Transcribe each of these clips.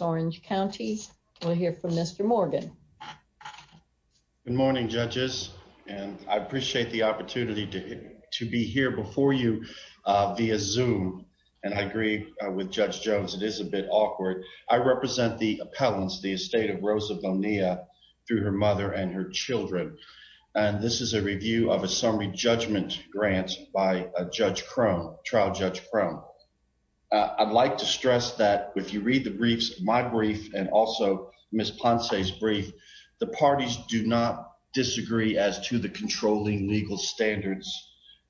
Orange County. We'll hear from Mr. Morgan. Good morning judges and I appreciate the opportunity to be here before you via Zoom and I agree with Judge Jones it is a bit awkward. I represent the appellants the estate of Rosa Bonilla through her mother and her children and this is a review of a summary judgment grant by Judge Crone, Trial Judge Crone. I'd like to stress that if you read my brief and also Ms. Ponce's brief the parties do not disagree as to the controlling legal standards.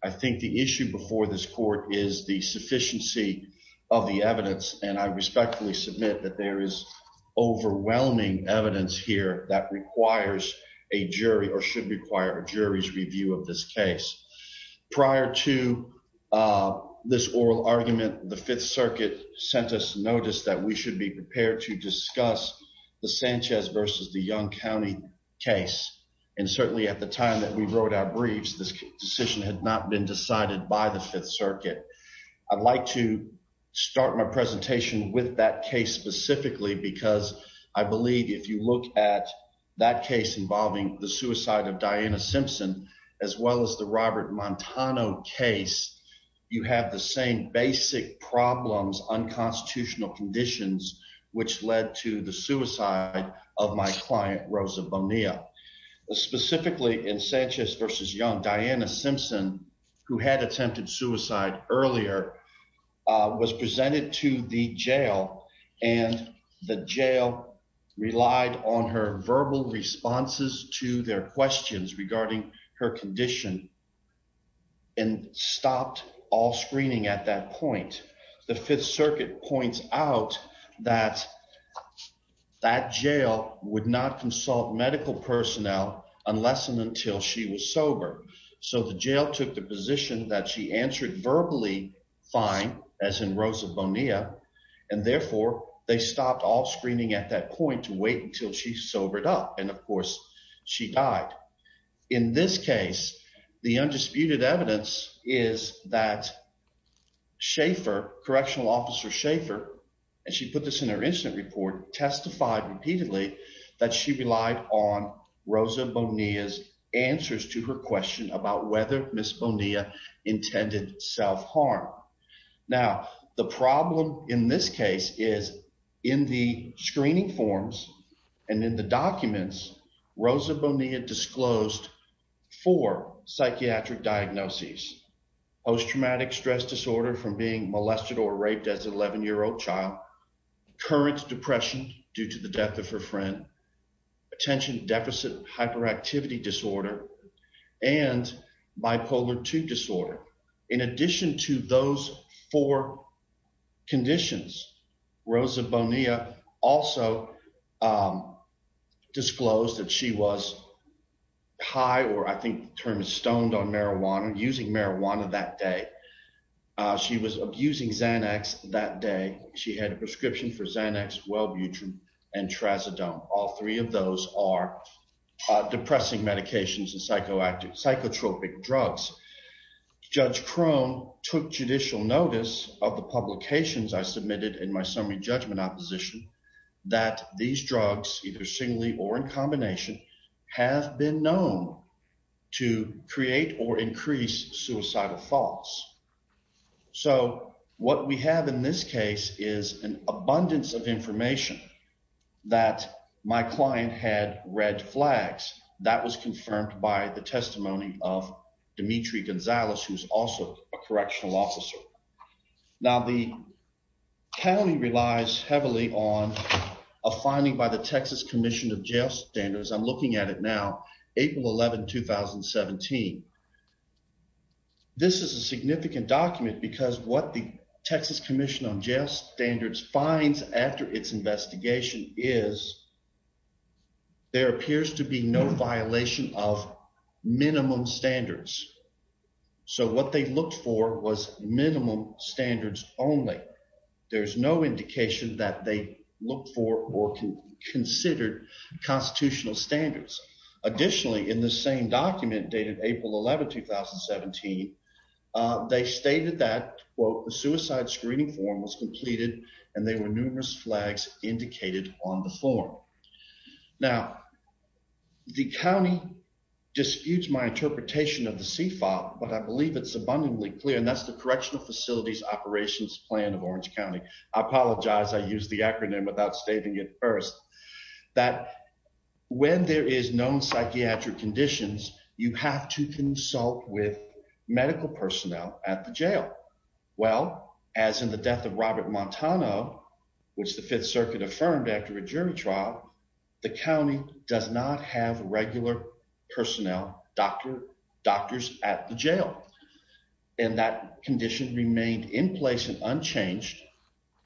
I think the issue before this court is the sufficiency of the evidence and I respectfully submit that there is overwhelming evidence here that requires a jury or should require a jury's case. Prior to this oral argument the Fifth Circuit sent us notice that we should be prepared to discuss the Sanchez versus the Young County case and certainly at the time that we wrote our briefs this decision had not been decided by the Fifth Circuit. I'd like to start my presentation with that case specifically because I believe if you look at that case involving the suicide of the Robert Montano case you have the same basic problems unconstitutional conditions which led to the suicide of my client Rosa Bonilla specifically in Sanchez versus Young Diana Simpson who had attempted suicide earlier was presented to the jail and the jail relied on her verbal responses to their questions regarding her condition and stopped all screening at that point. The Fifth Circuit points out that that jail would not consult medical personnel unless and until she was sober so the jail took the position that she answered verbally fine as in Rosa Bonilla and therefore they stopped all screening at that point to wait until she sobered up and of course she died. In this case the undisputed evidence is that Shafer correctional officer Shafer and she put this in her incident report testified repeatedly that she relied on Rosa Bonilla's answers to her question about whether Miss Bonilla intended self-harm. Now the problem in this case is in the screening forms and in the documents Rosa Bonilla disclosed four psychiatric diagnoses post-traumatic stress disorder from being molested or raped as an 11-year-old child current depression due to the death of her friend attention deficit hyperactivity disorder and bipolar 2 disorder. In addition to those four conditions Rosa Bonilla also disclosed that she was high or I think the term is stoned on marijuana using marijuana that day. She was abusing Xanax that day she had a prescription for Xanax Welbutrin and Trazodone all three of those are depressing medications and psychoactive psychotropic drugs. Judge Crone took judicial notice of the publications I submitted in my summary judgment opposition that these drugs either singly or in combination have been known to create or increase suicidal thoughts. So what we have in this case is an abundance of information that my client had red flags that was confirmed by the testimony of Dimitri Gonzalez who's also a correctional officer. Now the county relies heavily on a finding by the Texas Commission of Jail Standards I'm looking at it now April 11, 2017. This is a significant document because what the Texas Commission on Jail Standards finds after its investigation is there appears to be no violation of minimum standards. So what they looked for was minimum standards only there's no indication that they look for or can consider constitutional standards. Additionally in the same document dated April 11, 2017 they stated that quote the suicide screening form was completed and there were disputes my interpretation of the c-file but I believe it's abundantly clear and that's the correctional facilities operations plan of Orange County. I apologize I used the acronym without stating it first that when there is known psychiatric conditions you have to consult with medical personnel at the jail. Well as in the death of Robert Montano which the Fifth Personnel doctor doctors at the jail and that condition remained in place and unchanged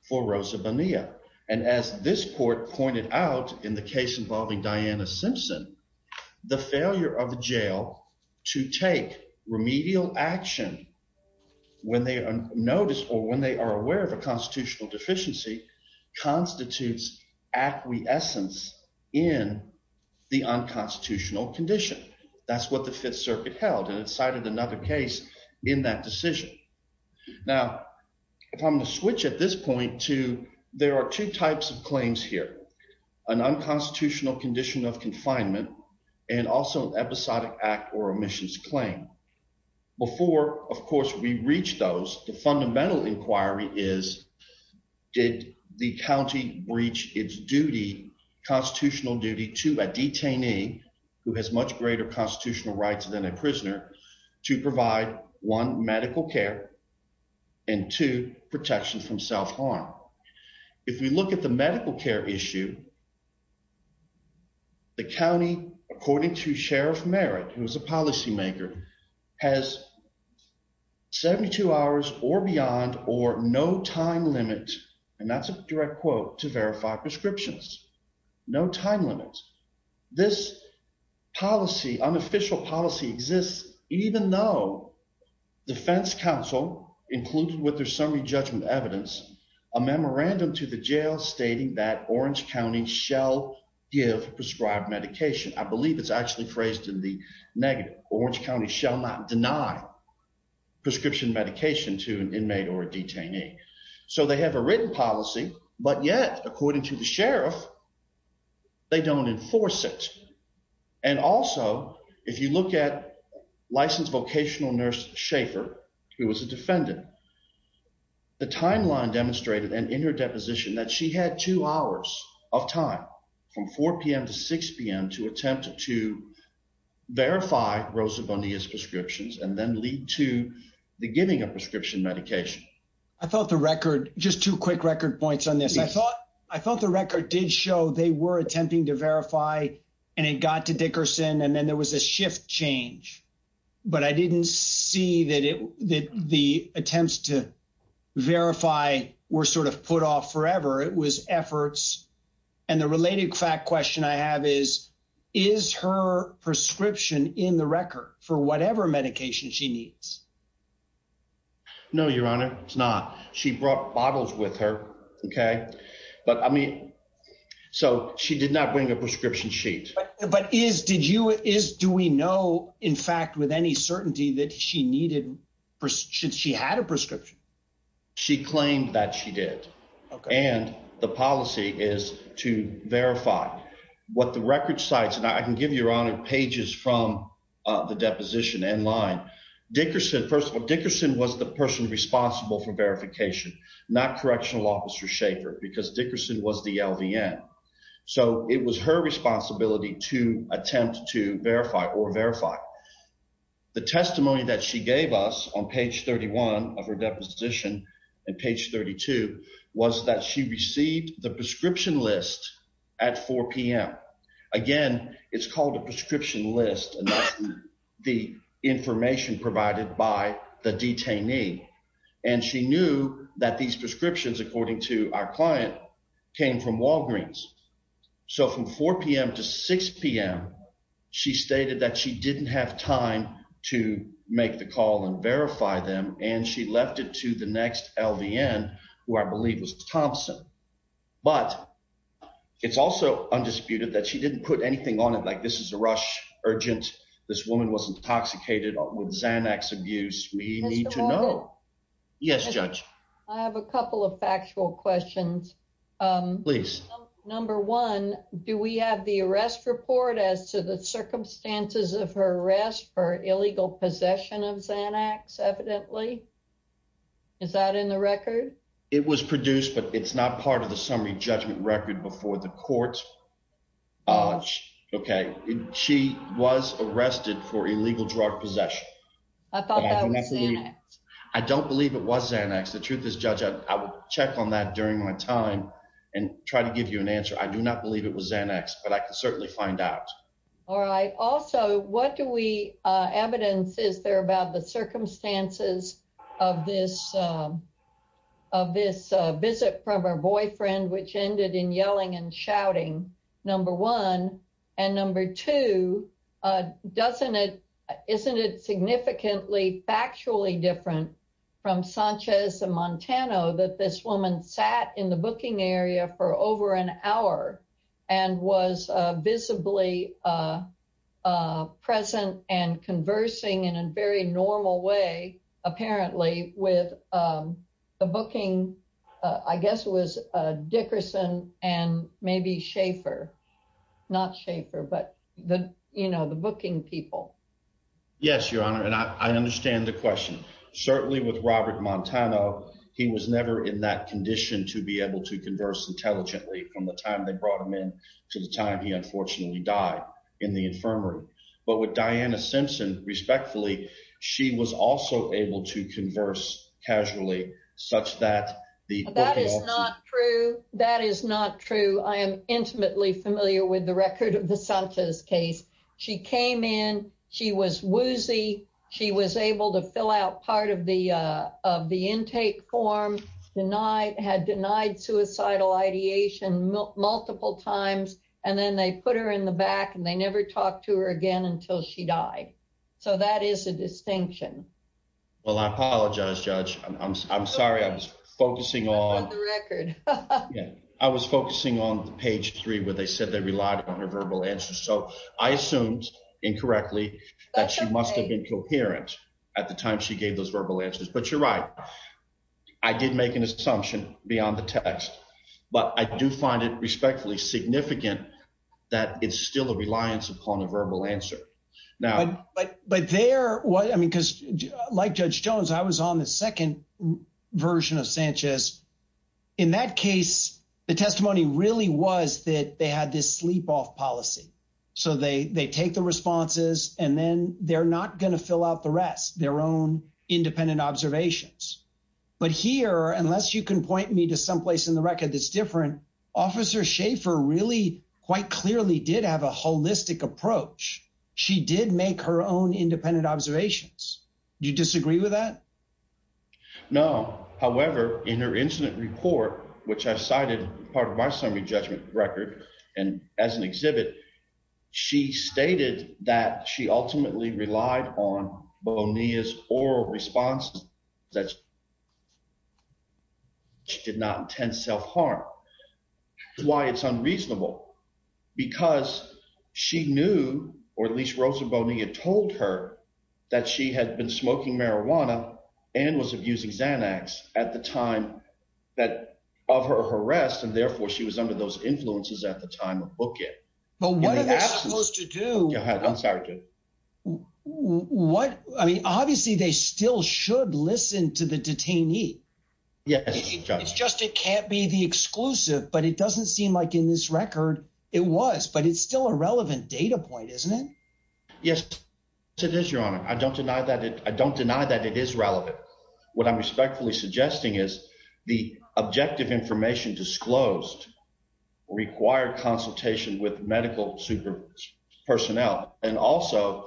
for Rosa Bonilla and as this court pointed out in the case involving Diana Simpson the failure of the jail to take remedial action when they are noticed or when they are aware of constitutional deficiency constitutes acquiescence in the unconstitutional condition. That's what the Fifth Circuit held and it cited another case in that decision. Now if I'm going to switch at this point to there are two types of claims here an unconstitutional condition of confinement and also an episodic act or omissions claim. Before of course we reach those the fundamental inquiry is did the county breach its duty constitutional duty to a detainee who has much greater constitutional rights than a prisoner to provide one medical care and two protection from self-harm. If we look at the medical care issue the county according to Sheriff Merritt who is a policymaker has 72 hours or beyond or no time limit and that's a direct quote to verify prescriptions no time limits. This policy unofficial policy exists even though defense counsel included with their summary judgment evidence a memorandum to the jail stating that Orange County shall give prescribed medication. I believe it's actually phrased in the negative Orange County shall not deny prescription medication to an inmate or a detainee. So they have a written policy but yet according to the sheriff they don't enforce it and also if you look at licensed vocational nurse Schaefer who was a defendant the timeline demonstrated and in her deposition that she had two hours of time from 4 p.m to 6 p.m to attempt to verify Rosa Bonilla's prescriptions and then lead to the giving of prescription medication. I thought the record just two quick record points on this I thought I thought the record did show they were attempting to verify and it got to Dickerson and then there was a shift change but I didn't see that it that the attempts to verify were sort of put off forever it was efforts and the related fact question I have is is her prescription in the record for whatever medication she needs? No your honor it's not she brought bottles with her okay but I mean so she did not bring a sheet but is did you is do we know in fact with any certainty that she needed should she had a prescription? She claimed that she did and the policy is to verify what the record cites and I can give you your honor pages from the deposition and line Dickerson first of all Dickerson was the person responsible for verification not correctional officer Schaefer because Dickerson was the LVN so it was her responsibility to attempt to verify or verify the testimony that she gave us on page 31 of her deposition and page 32 was that she received the prescription list at 4 p.m again it's called a prescription list and that's the information provided by the detainee and she knew that these prescriptions according to our client came from Walgreens so from 4 p.m to 6 p.m she stated that she didn't have time to make the call and verify them and she left it to the next LVN who I believe was Thompson but it's also undisputed that she didn't put anything on it like this is a rush urgent this woman was intoxicated with Xanax abuse we need to know yes judge I have a couple of factual questions um please number one do we have the arrest report as to the circumstances of her arrest for illegal possession of Xanax evidently is that in the record it was produced but it's not part of I thought that was Xanax I don't believe it was Xanax the truth is judge I would check on that during my time and try to give you an answer I do not believe it was Xanax but I can certainly find out all right also what do we uh evidence is there about the circumstances of this um of this uh visit from her boyfriend which ended in yelling and shouting number one and number two uh doesn't isn't it significantly factually different from Sanchez and Montano that this woman sat in the booking area for over an hour and was uh visibly uh uh present and conversing in a very normal way apparently with um the booking uh I guess was uh Dickerson and maybe Schaefer not Schaefer but the you know the booking people yes your honor and I understand the question certainly with Robert Montano he was never in that condition to be able to converse intelligently from the time they brought him in to the time he unfortunately died in the infirmary but with Diana Simpson respectfully she was also able to converse casually such that the that is not true that is not true I am intimately familiar with the record of the Sanchez case she came in she was woozy she was able to fill out part of the uh of the intake form denied had denied suicidal ideation multiple times and then they put her in the back and they never talked to her again until she died so that is a distinction well I apologize judge I'm sorry I was focusing on the record yeah I was focusing on the page three where they said they relied on her verbal answers so I assumed incorrectly that she must have been coherent at the time she gave those verbal answers but you're right I did make an assumption beyond the text but I do find it respectfully significant that it's still a reliance upon a verbal answer now but but there what I mean like Judge Jones I was on the second version of Sanchez in that case the testimony really was that they had this sleep off policy so they they take the responses and then they're not going to fill out the rest their own independent observations but here unless you can point me to someplace in the record that's different officer Schaefer really quite clearly did have a holistic approach she did make her own independent observations do you disagree with that no however in her incident report which I cited part of my summary judgment record and as an exhibit she stated that she ultimately relied on Bonilla's oral response that she did not intend self-harm why it's unreasonable because she knew or at least Rosa Bonilla told her that she had been smoking marijuana and was abusing Xanax at the time that of her arrest and therefore she was under those influences at the time of book it but what are they supposed to do I'm sorry what I mean obviously they still should listen to the detainee yes it's just it can't be the exclusive but it doesn't seem like in this record it was but it's still a relevant data point isn't it yes it is your honor I don't deny that it I don't deny that it is relevant what I'm respectfully suggesting is the objective information disclosed required consultation with medical super personnel and also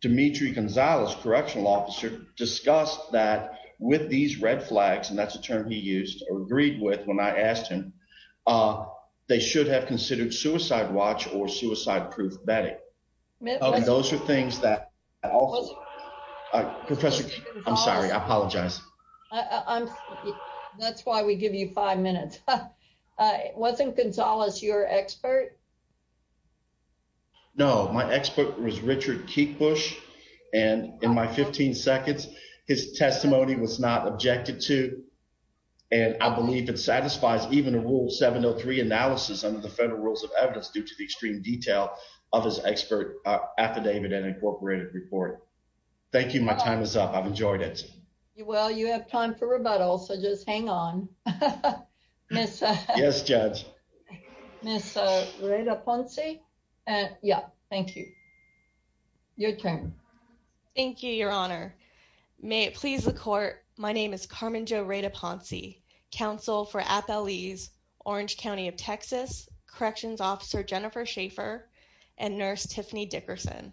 Demetri Gonzalez correctional officer discussed that with these red flags and that's a term he used or agreed with when I asked him they should have considered suicide watch or suicide proof betting those are things that was professor I'm sorry I apologize I'm that's why we give you five minutes wasn't Gonzalez your expert no my expert was Richard Keekbush and in my 15 seconds his testimony was not objected to and I believe it satisfies even a rule 703 analysis under the thank you my time is up I've enjoyed it well you have time for rebuttal so just hang on miss yes judge miss uh right up on c and yeah thank you your turn thank you your honor may it please the court my name is Carmen Jo Raida Poncey counsel for Appalese Orange County of Texas corrections officer Jennifer Shafer and nurse Tiffany Dickerson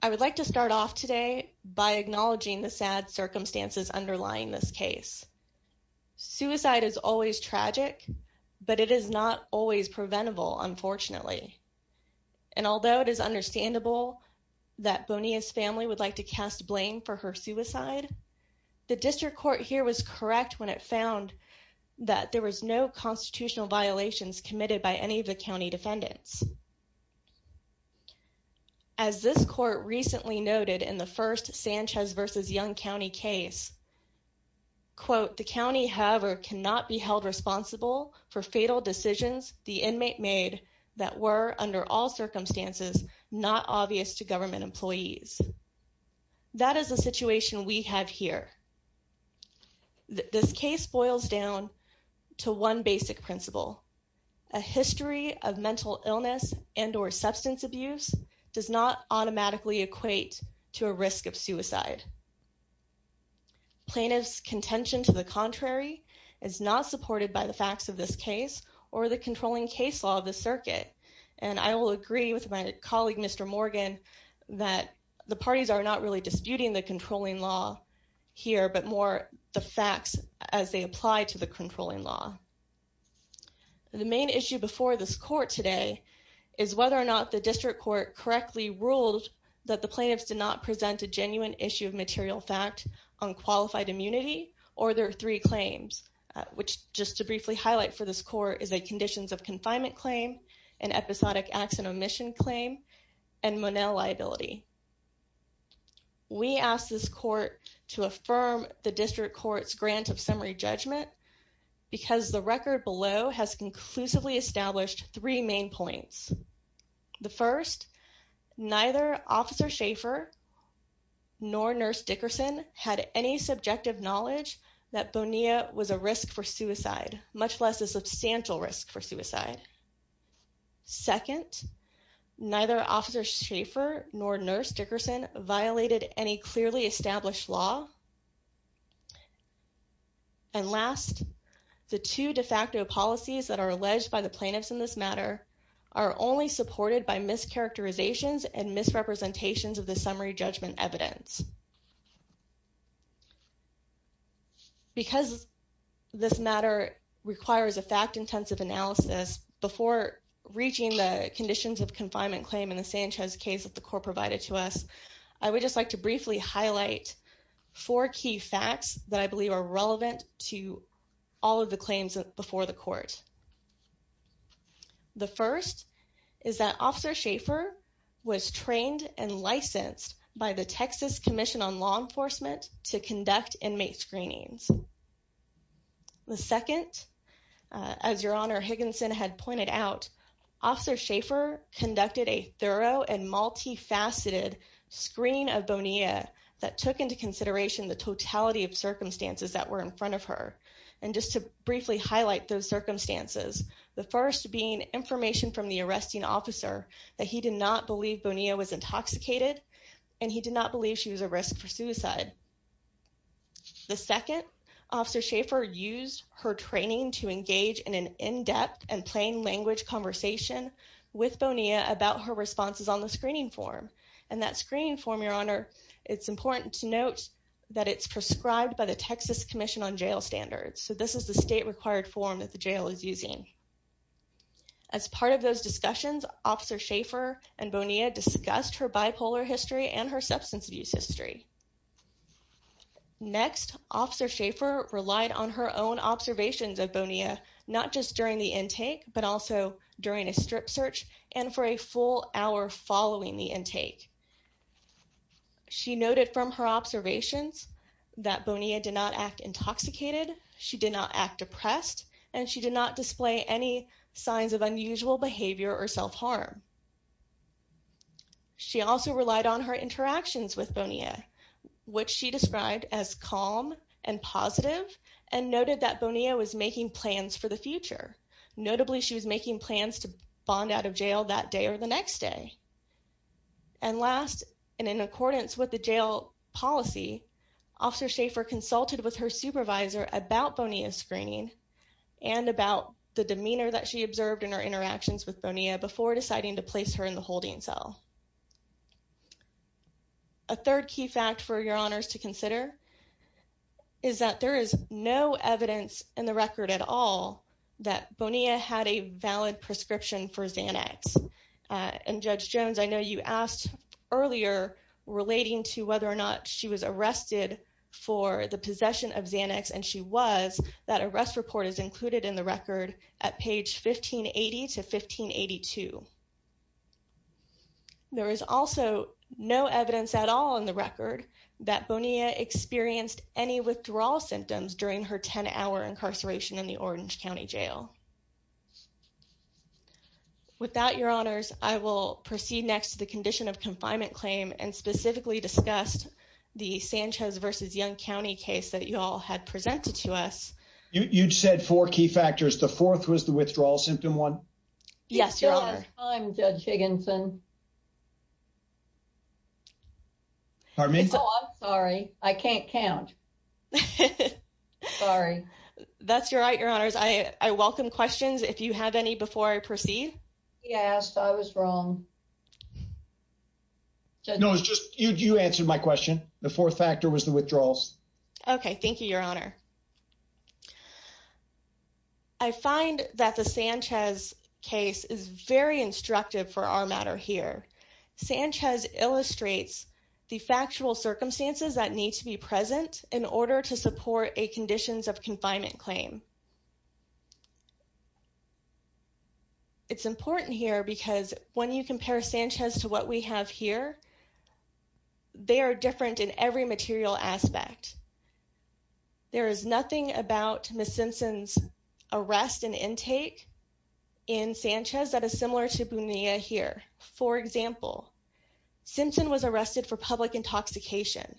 I would like to start off today by acknowledging the sad circumstances underlying this case suicide is always tragic but it is not always preventable unfortunately and although it is understandable that Bonilla's family would like to cast blame for her suicide the district court here was correct when it found that there was no constitutional violations committed by any of the county defendants as this court recently noted in the first Sanchez versus Young County case quote the county however cannot be held responsible for fatal decisions the inmate made that were under all circumstances not obvious to government employees that is the situation we have here this case boils down to one basic principle a history of mental illness and or substance abuse does not automatically equate to a risk of suicide plaintiff's contention to the contrary is not supported by the facts of this case or the controlling case law of the circuit and I will agree with my colleague Mr. Morgan that the parties are not really disputing the controlling law here but more the facts as they apply to the controlling law the main issue before this court today is whether or not the district court correctly ruled that the plaintiffs did not present a genuine issue of material fact on qualified immunity or their three claims which just to briefly highlight for this court is a conditions of confinement claim an episodic action omission claim and monel liability we ask this court to affirm the district court's grant of summary judgment because the record below has conclusively established three main points the first neither officer shaffer nor nurse dickerson had any and last the two de facto policies that are alleged by the plaintiffs in this matter are only supported by mischaracterizations and misrepresentations of the summary judgment evidence because this matter requires a fact-intensive analysis before reaching the conditions of confinement claim in the sanchez case that the court provided to us i would just like to briefly highlight four key facts that i believe are relevant to all of the claims before the court the first is that officer shaffer was trained and licensed by the texas commission on law enforcement to conduct inmate screenings the second as your honor higginson had pointed out officer shaffer conducted a thorough and multi-faceted screening of bonia that took into consideration the totality of circumstances that were in front of her and just to briefly highlight those circumstances the first being information from the arresting officer that he did not believe bonia was intoxicated and he did not to engage in an in-depth and plain language conversation with bonia about her responses on the screening form and that screening form your honor it's important to note that it's prescribed by the texas commission on jail standards so this is the state required form that the jail is using as part of those discussions officer shaffer and bonia discussed her bipolar history and her substance abuse history next officer shaffer relied on her own observations of bonia not just during the intake but also during a strip search and for a full hour following the intake she noted from her observations that bonia did not act intoxicated she did not act depressed and she did not display any signs of unusual behavior or self-harm she also relied on her interactions with bonia which she described as calm and positive and noted that bonia was making plans for the future notably she was making plans to bond out of jail that day or the next day and last and in accordance with the jail policy officer shaffer consulted with her supervisor about bonia screening and about the demeanor that she observed in her interactions with bonia before deciding to place her in the holding cell a third key fact for your honors to consider is that there is no evidence in the record at all that bonia had a valid prescription for xanax and judge jones i know you asked earlier relating to whether or not she was arrested for the possession of xanax and she was that arrest report is included in the record at page 1580 to 1582 there is also no evidence at all in the record that bonia experienced any withdrawal symptoms during her 10-hour incarceration in the orange county jail without your honors i will proceed next to the condition of confinement claim and specifically discussed the sanchez versus young county case that you all had presented to us you'd said four key factors the fourth was the withdrawal symptom one yes your honor i'm judge higginson pardon me oh i'm sorry i can't count sorry that's your right your honors i i welcome questions if you have any before i proceed yes i was wrong no it's just you you answered my question the fourth factor was the withdrawals okay thank you your honor i find that the sanchez case is very instructive for our matter here sanchez illustrates the factual circumstances that need to be present in order to support a conditions of confinement claim it's important here because when you compare sanchez to what we have here they are different in every material aspect there is nothing about miss simpson's arrest and intake in sanchez that is similar to bonia here for example simpson was arrested for public intoxication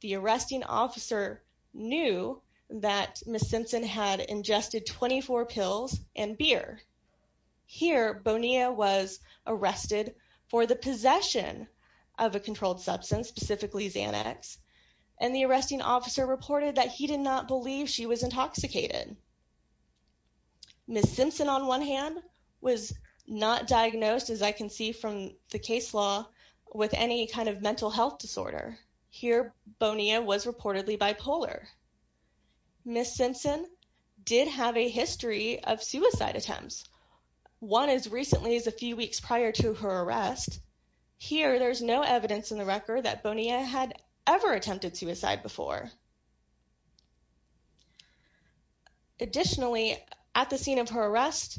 the arresting officer knew that miss simpson had ingested 24 pills and beer here bonia was arrested for the possession of a controlled substance specifically xanax and the arresting officer reported that he did not believe she was intoxicated miss simpson on one hand was not diagnosed as i can see from the case law with any kind of mental health disorder here bonia was reportedly bipolar miss simpson did have a history of suicide attempts one as recently as a few weeks prior to her arrest here there's no evidence in the record that bonia had ever attempted suicide before additionally at the scene of her arrest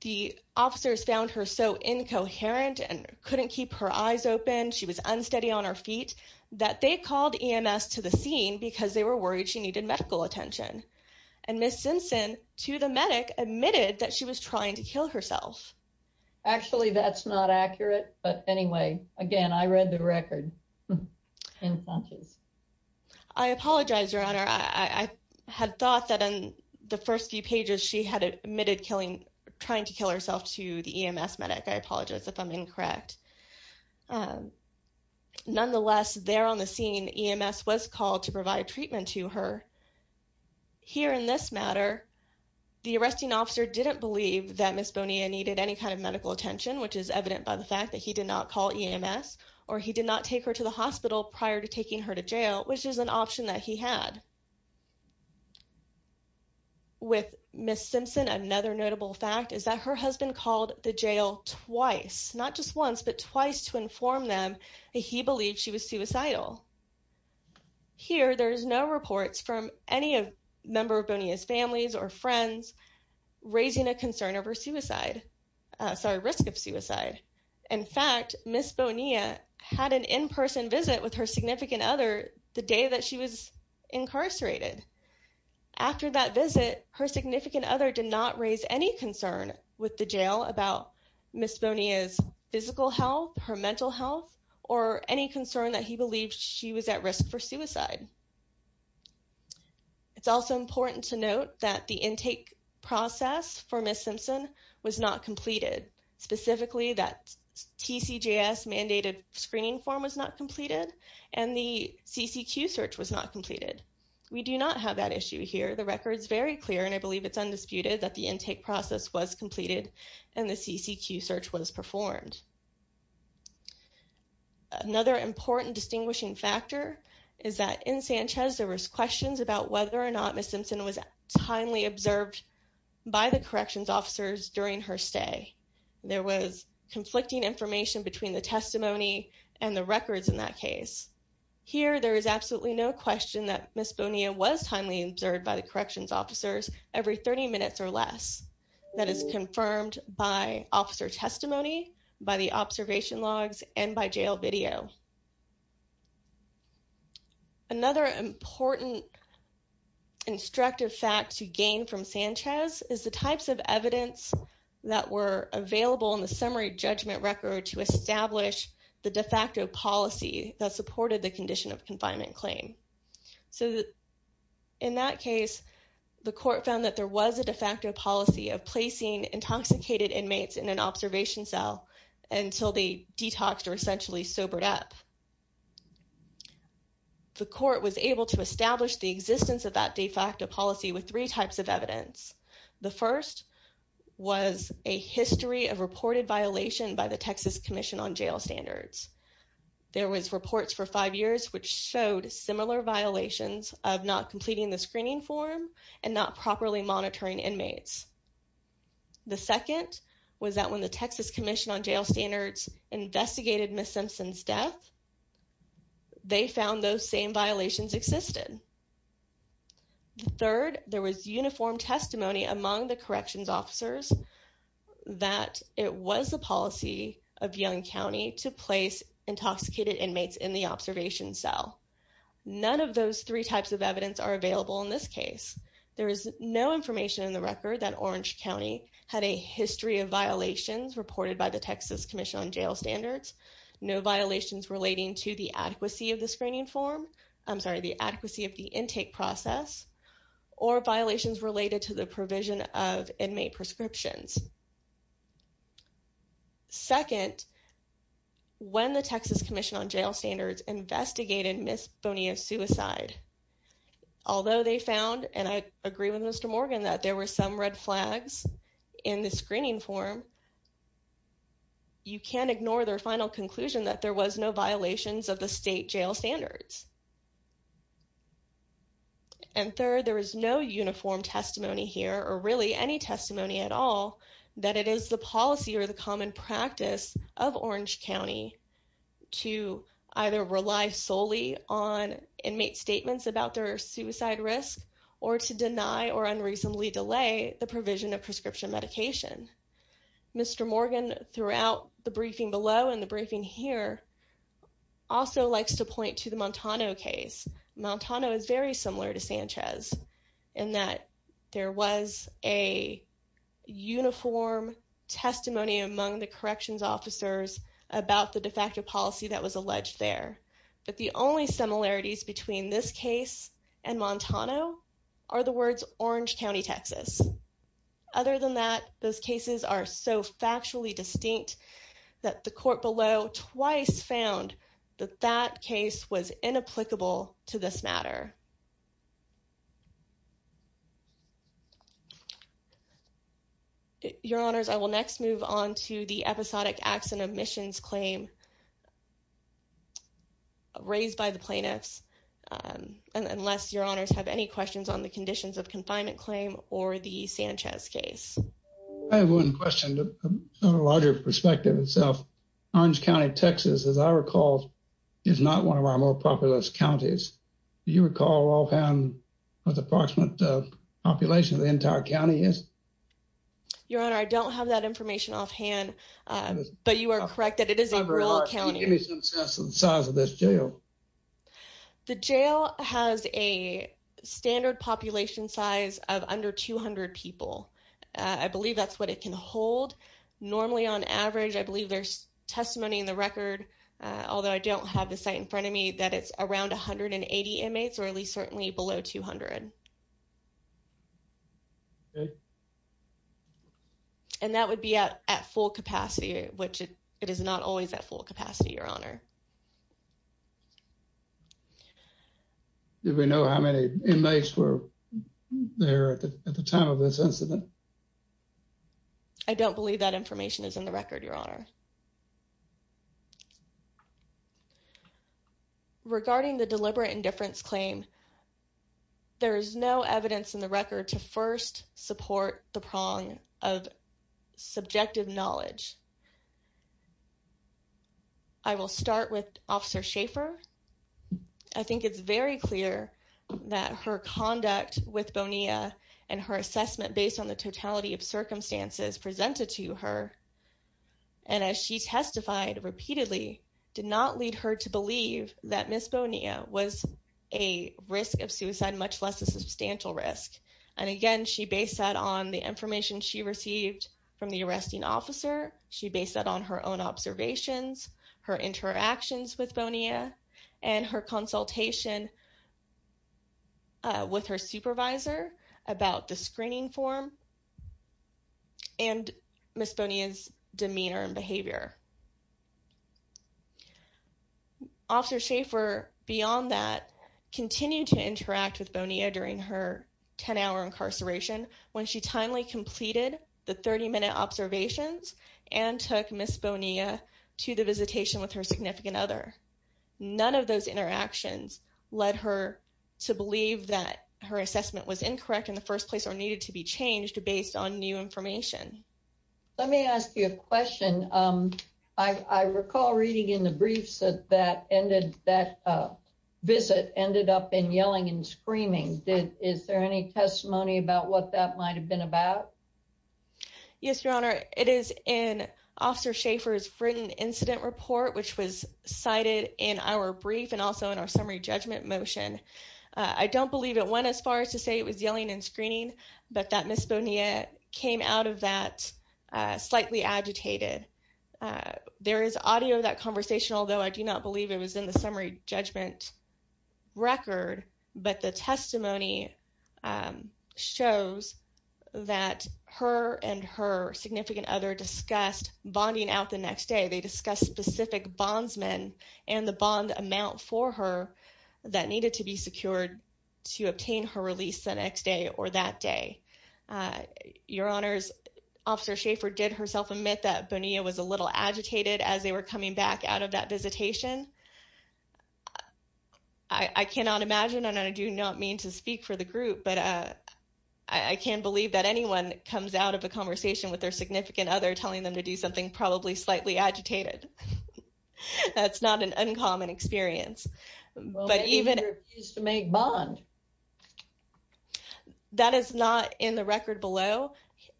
the officers found her so incoherent and couldn't keep her eyes open she was unsteady on her feet that they called ems to the scene because they were worried she needed medical attention and miss simpson to the medic admitted that she was trying to kill herself actually that's not accurate but anyway again i read the record i apologize your honor i i had thought that in the first few pages she had admitted killing trying to kill herself to the ems medic i apologize if i'm incorrect nonetheless there on the scene ems was called to provide treatment to her here in this matter the arresting officer didn't believe that miss bonia needed any kind of medical attention which is evident by the fact that he did not call ems or he did not take her to the hospital prior to taking her to jail which is an option that he had with miss simpson another notable fact is that her husband called the jail twice not just once but twice to inform them he believed she was suicidal here there's no reports from any of member bonia's families or friends raising a concern over suicide sorry risk of suicide in fact miss bonia had an in-person visit with her significant other the day that she was incarcerated after that visit her significant other did not raise any concern with the jail about miss bonia's physical health her mental health or any concern that he believed she was at risk for suicide it's also important to note that the intake process for miss simpson was not completed specifically that tcjs mandated screening form was not completed and the ccq search was not completed we do not have that issue here the record is very clear and i believe it's undisputed that the intake process was performed another important distinguishing factor is that in sanchez there was questions about whether or not miss simpson was timely observed by the corrections officers during her stay there was conflicting information between the testimony and the records in that case here there is absolutely no question that miss bonia was timely observed by the corrections officers every 30 minutes or less that is confirmed by officer testimony by the observation logs and by jail video another important instructive fact to gain from sanchez is the types of evidence that were available in the summary judgment record to establish the de facto policy that there was a de facto policy of placing intoxicated inmates in an observation cell until they detoxed or essentially sobered up the court was able to establish the existence of that de facto policy with three types of evidence the first was a history of reported violation by the texas commission on jail standards there was reports for five years which showed similar violations of not completing the screening form and not properly monitoring inmates the second was that when the texas commission on jail standards investigated miss simpson's death they found those same violations existed the third there was uniform testimony among the corrections officers that it was the policy of young county to place intoxicated inmates in the observation cell none of those three types of evidence are available in this case there is no information in the record that orange county had a history of violations reported by the texas commission on jail standards no violations relating to the adequacy of the screening form i'm sorry the adequacy of the intake process or violations related to the provision of inmate prescriptions second when the texas commission on jail standards investigated miss bonia's suicide although they found and i agree with mr morgan that there were some red flags in the screening form you can't ignore their final conclusion that there was no violations of the state jail standards and third there is no uniform testimony here or really any testimony at all that it is the policy or the common practice of orange county to either rely solely on inmate statements about their suicide risk or to deny or unreasonably delay the provision of prescription medication mr morgan throughout the briefing below and the briefing here also likes to point to the montano case montano is very similar to sanchez in that there was a uniform testimony among the corrections officers about the de facto policy that was alleged there but the only similarities between this case and montano are the words orange county texas other than that those cases are so factually distinct that the court below twice found that that case was inapplicable to this matter your honors i will next move on to the episodic acts and omissions claim raised by the plaintiffs um and unless your honors have any questions on the conditions of confinement claim or the sanchez case i have one question a larger perspective itself orange county texas as i recall is not one of our more populous counties do you recall offhand what the approximate population of the entire county is your honor i don't have that information offhand but you are correct that it is a rural county give me some sense of the size of this jail the jail has a standard population size of under 200 people i believe that's what it can hold normally on average i believe there's testimony in the 80 inmates or at least certainly below 200 okay and that would be at at full capacity which it is not always at full capacity your honor do we know how many inmates were there at the time of this incident i don't believe that information is in the record your honor okay regarding the deliberate indifference claim there is no evidence in the record to first support the prong of subjective knowledge i will start with officer shaffer i think it's very clear that her conduct with bonia and her assessment based on the totality of circumstances presented to her and as she testified repeatedly did not lead her to believe that miss bonia was a risk of suicide much less a substantial risk and again she based that on the information she received from the arresting officer she based that on her own observations her interactions with bonia and her consultation with her supervisor about the screening form and miss bonia's demeanor and behavior officer shaffer beyond that continued to interact with bonia during her 10-hour incarceration when she timely completed the 30-minute observations and took miss bonia to the visitation with her significant other none of those interactions led her to believe that her assessment was incorrect in the first place or needed to be changed based on new information let me ask you a question um i i recall reading in the briefs that that ended that uh visit ended up in yelling and screaming did is there any testimony about what that might have been about yes your honor it is in officer shaffer's written incident report which was cited in our brief and also in our summary judgment motion i don't believe it went as far as to say it was yelling and screening but that miss bonia came out of that uh slightly agitated uh there is audio of that conversation although i do not believe it was in the summary judgment record but the testimony um shows that her and her significant other discussed bonding out the next day they discussed specific bondsmen and the bond amount for her that needed to be secured to obtain her release the next day or that day your honors officer shaffer did herself admit that bonia was a little agitated as they were coming back out of that visitation i i cannot imagine and i do not mean to speak for the group but uh i can't believe that anyone comes out of a conversation with their significant other telling them to do something probably slightly agitated that's not an uncommon experience but even is to make bond that is not in the record below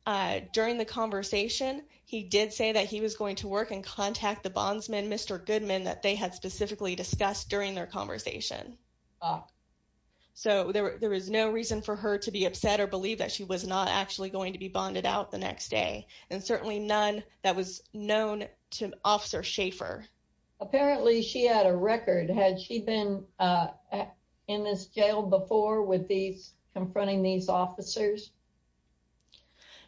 uh during the conversation he did say that he was going to work and contact the bondsman mr goodman that they had specifically discussed during their conversation so there was no reason for her to be upset or believe that she was not actually going to be bonded out the next day and certainly none that was known to officer shaffer apparently she had a record had she been uh in this jail before with these confronting these officers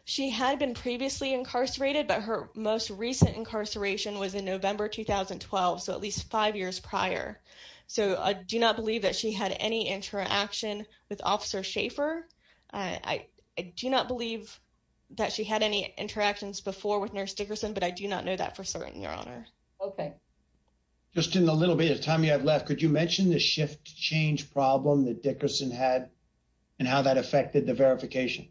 she had been previously incarcerated but her most recent incarceration was in november 2012 so at least five years prior so i do not believe that she had any interaction with officer shaffer i do not believe that she had any interactions before with nurse dickerson but i do not know that for certain your honor okay just in the little bit of time you have left could you mention the shift change problem that dickerson had and how that affected the verification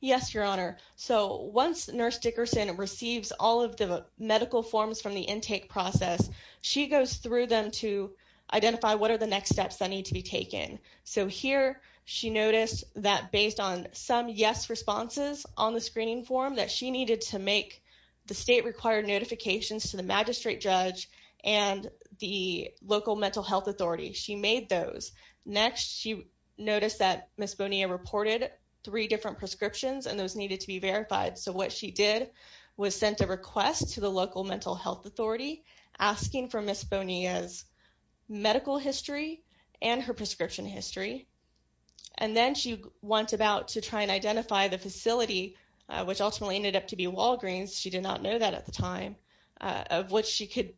yes your honor so once nurse dickerson receives all of the medical forms from the intake process she goes through them to identify what are the next steps that need to be taken so here she noticed that based on some yes responses on the screening form that she needed to make the state required notifications to the magistrate judge and the local mental health authority she made those next she noticed that miss bonia reported three different prescriptions and those needed to be verified so what she did was sent a request to the local mental health asking for miss bonia's medical history and her prescription history and then she went about to try and identify the facility which ultimately ended up to be walgreens she did not know that at the time of what she could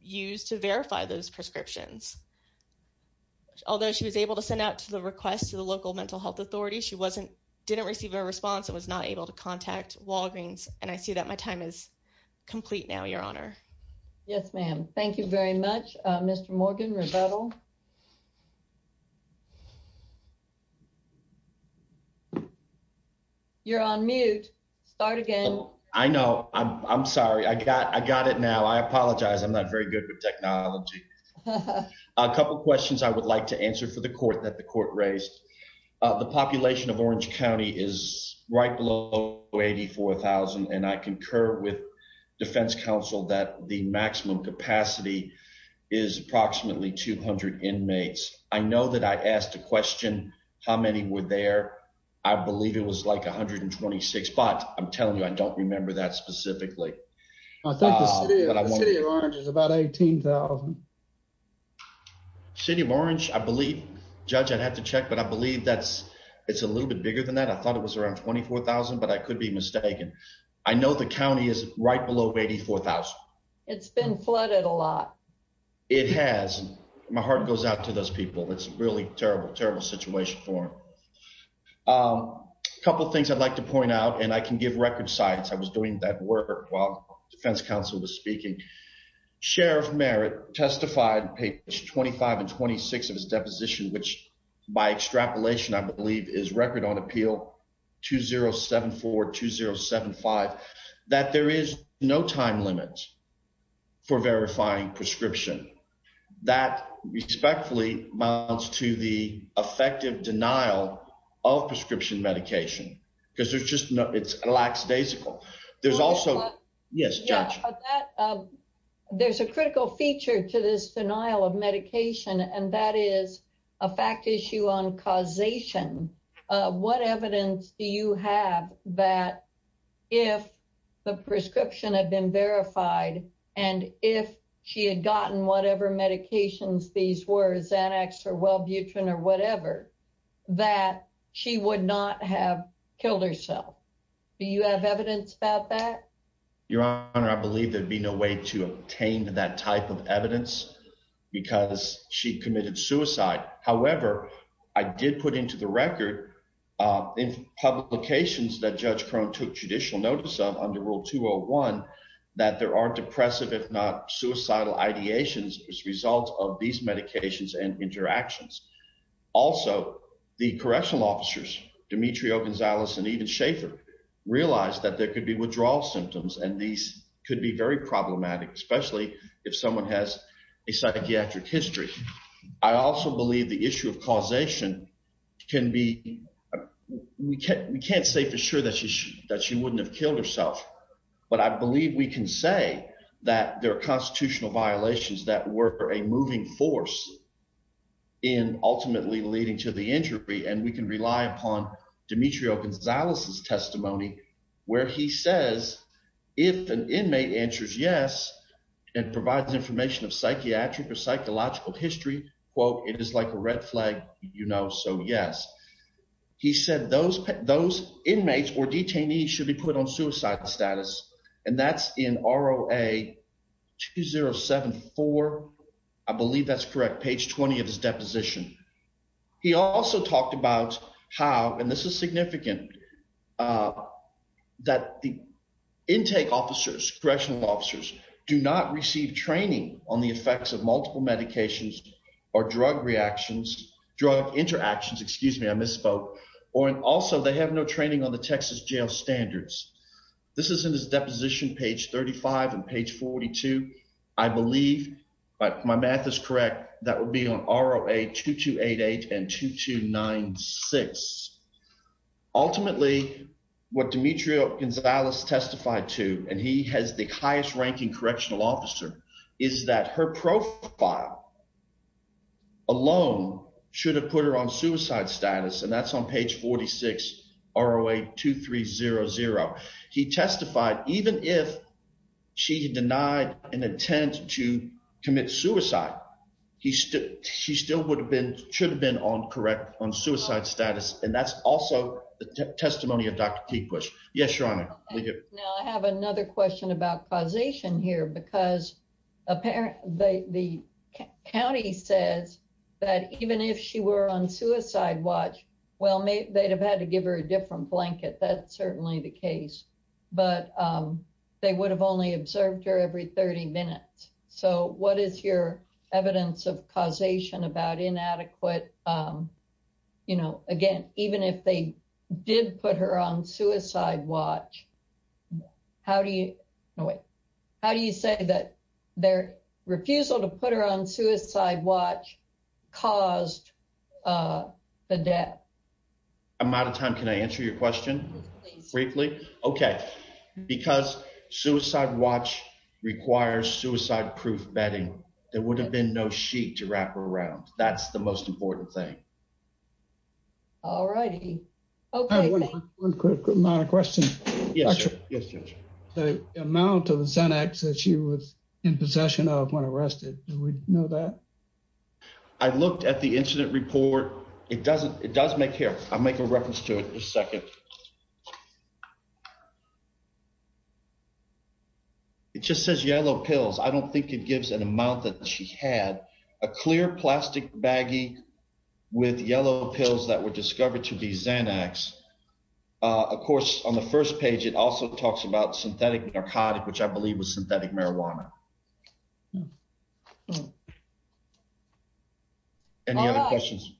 use to verify those prescriptions although she was able to send out to the request to the local mental health authority she wasn't didn't receive a response and was not able to contact walgreens and i see that my time is complete now your honor yes ma'am thank you very much uh mr morgan rebuttal you're on mute start again i know i'm i'm sorry i got i got it now i apologize i'm not very good with technology a couple questions i would like to answer for the court that the court raised the population of orange county is right below 84 000 and i concur with defense council that the maximum capacity is approximately 200 inmates i know that i asked a question how many were there i believe it was like 126 but i'm telling you i don't remember that specifically i think the city of orange is about 18 000 city of orange i believe judge i'd have to check but i believe that's it's a little bit bigger than that i thought it was around 24 000 but i could be mistaken i know the county is right below 84 000 it's been flooded a lot it has my heart goes out to those people it's really terrible terrible situation for um a couple things i'd like to point out and i can give record sites i was doing that work while defense council was speaking sheriff merit testified page 25 and 26 of his deposition which by extrapolation i believe is record on appeal 2074-2075 that there is no time limit for verifying prescription that respectfully amounts to the effective denial of prescription medication because there's just no it's a lax daysicle there's also yes judge that there's a critical feature to this denial of medication and that is a fact issue on causation what evidence do you have that if the prescription had been verified and if she had gotten whatever medications these were xanax or wellbutrin or whatever that she would not have killed herself do you have evidence about that your honor i believe there'd be no way to obtain that type of evidence because she committed suicide however i did put into the record uh in publications that judge crone took judicial notice of under rule 201 that there are depressive if not suicidal ideations as a result of these medications and interactions also the correctional officers dimitrio gonzalez and even schaefer realized that there could be withdrawal symptoms and these could be very problematic especially if someone has a psychiatric history i also believe the issue of causation can be we can't we can't say for sure that she that she wouldn't have killed herself but i believe we can say that there are constitutional violations that were a moving force in ultimately leading to the injury and we can rely upon dimitrio gonzalez's testimony where he says if an inmate answers yes and provides information of psychiatric or psychological history quote it is like a red flag you know so yes he said those those inmates or detainees should be put on suicide status and that's in roa 2074 i believe that's correct page 20 of his deposition he also talked about how and this is significant uh that the intake officers correctional officers do not receive training on the effects of multiple medications or drug reactions drug interactions excuse me i misspoke or and also they have no training on the texas jail standards this is in his deposition page 35 and page 42 i believe but my math is correct that would be on roa 2288 and 2296 ultimately what dimitrio gonzalez testified to and he has the highest ranking correctional officer is that her profile alone should have put her on suicide status and that's on page 46 roa 2300 he testified even if she denied an attempt to commit suicide he still she still would have been should have been on correct on suicide status and that's also the testimony of dr t push yes your honor now i have another question about causation here because apparently the county says that even if she were on suicide watch well maybe they'd have had to give her a different blanket that's certainly the case but um they would have only observed her every 30 minutes so what is your evidence of causation about inadequate um you say that their refusal to put her on suicide watch caused uh the death amount of time can i answer your question briefly okay because suicide watch requires suicide proof bedding there would have been no sheet to wrap around that's the most important thing all righty okay one quick amount of questions yes yes the amount of xanax that she was in possession of when arrested do we know that i looked at the incident report it doesn't it does make here i'll make a reference to it in a second it just says yellow pills i don't think it gives an amount that she had a clear plastic baggie with yellow pills that were discovered to be xanax of course on the first page it also talks about synthetic narcotic which i believe was synthetic marijuana any other questions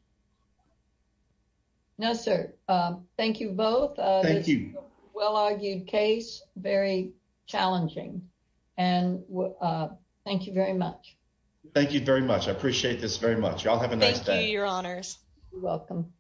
no sir um thank you both uh thank you well argued case very challenging and uh thank you very much thank you very much i appreciate this very much y'all have a nice day your honors you're welcome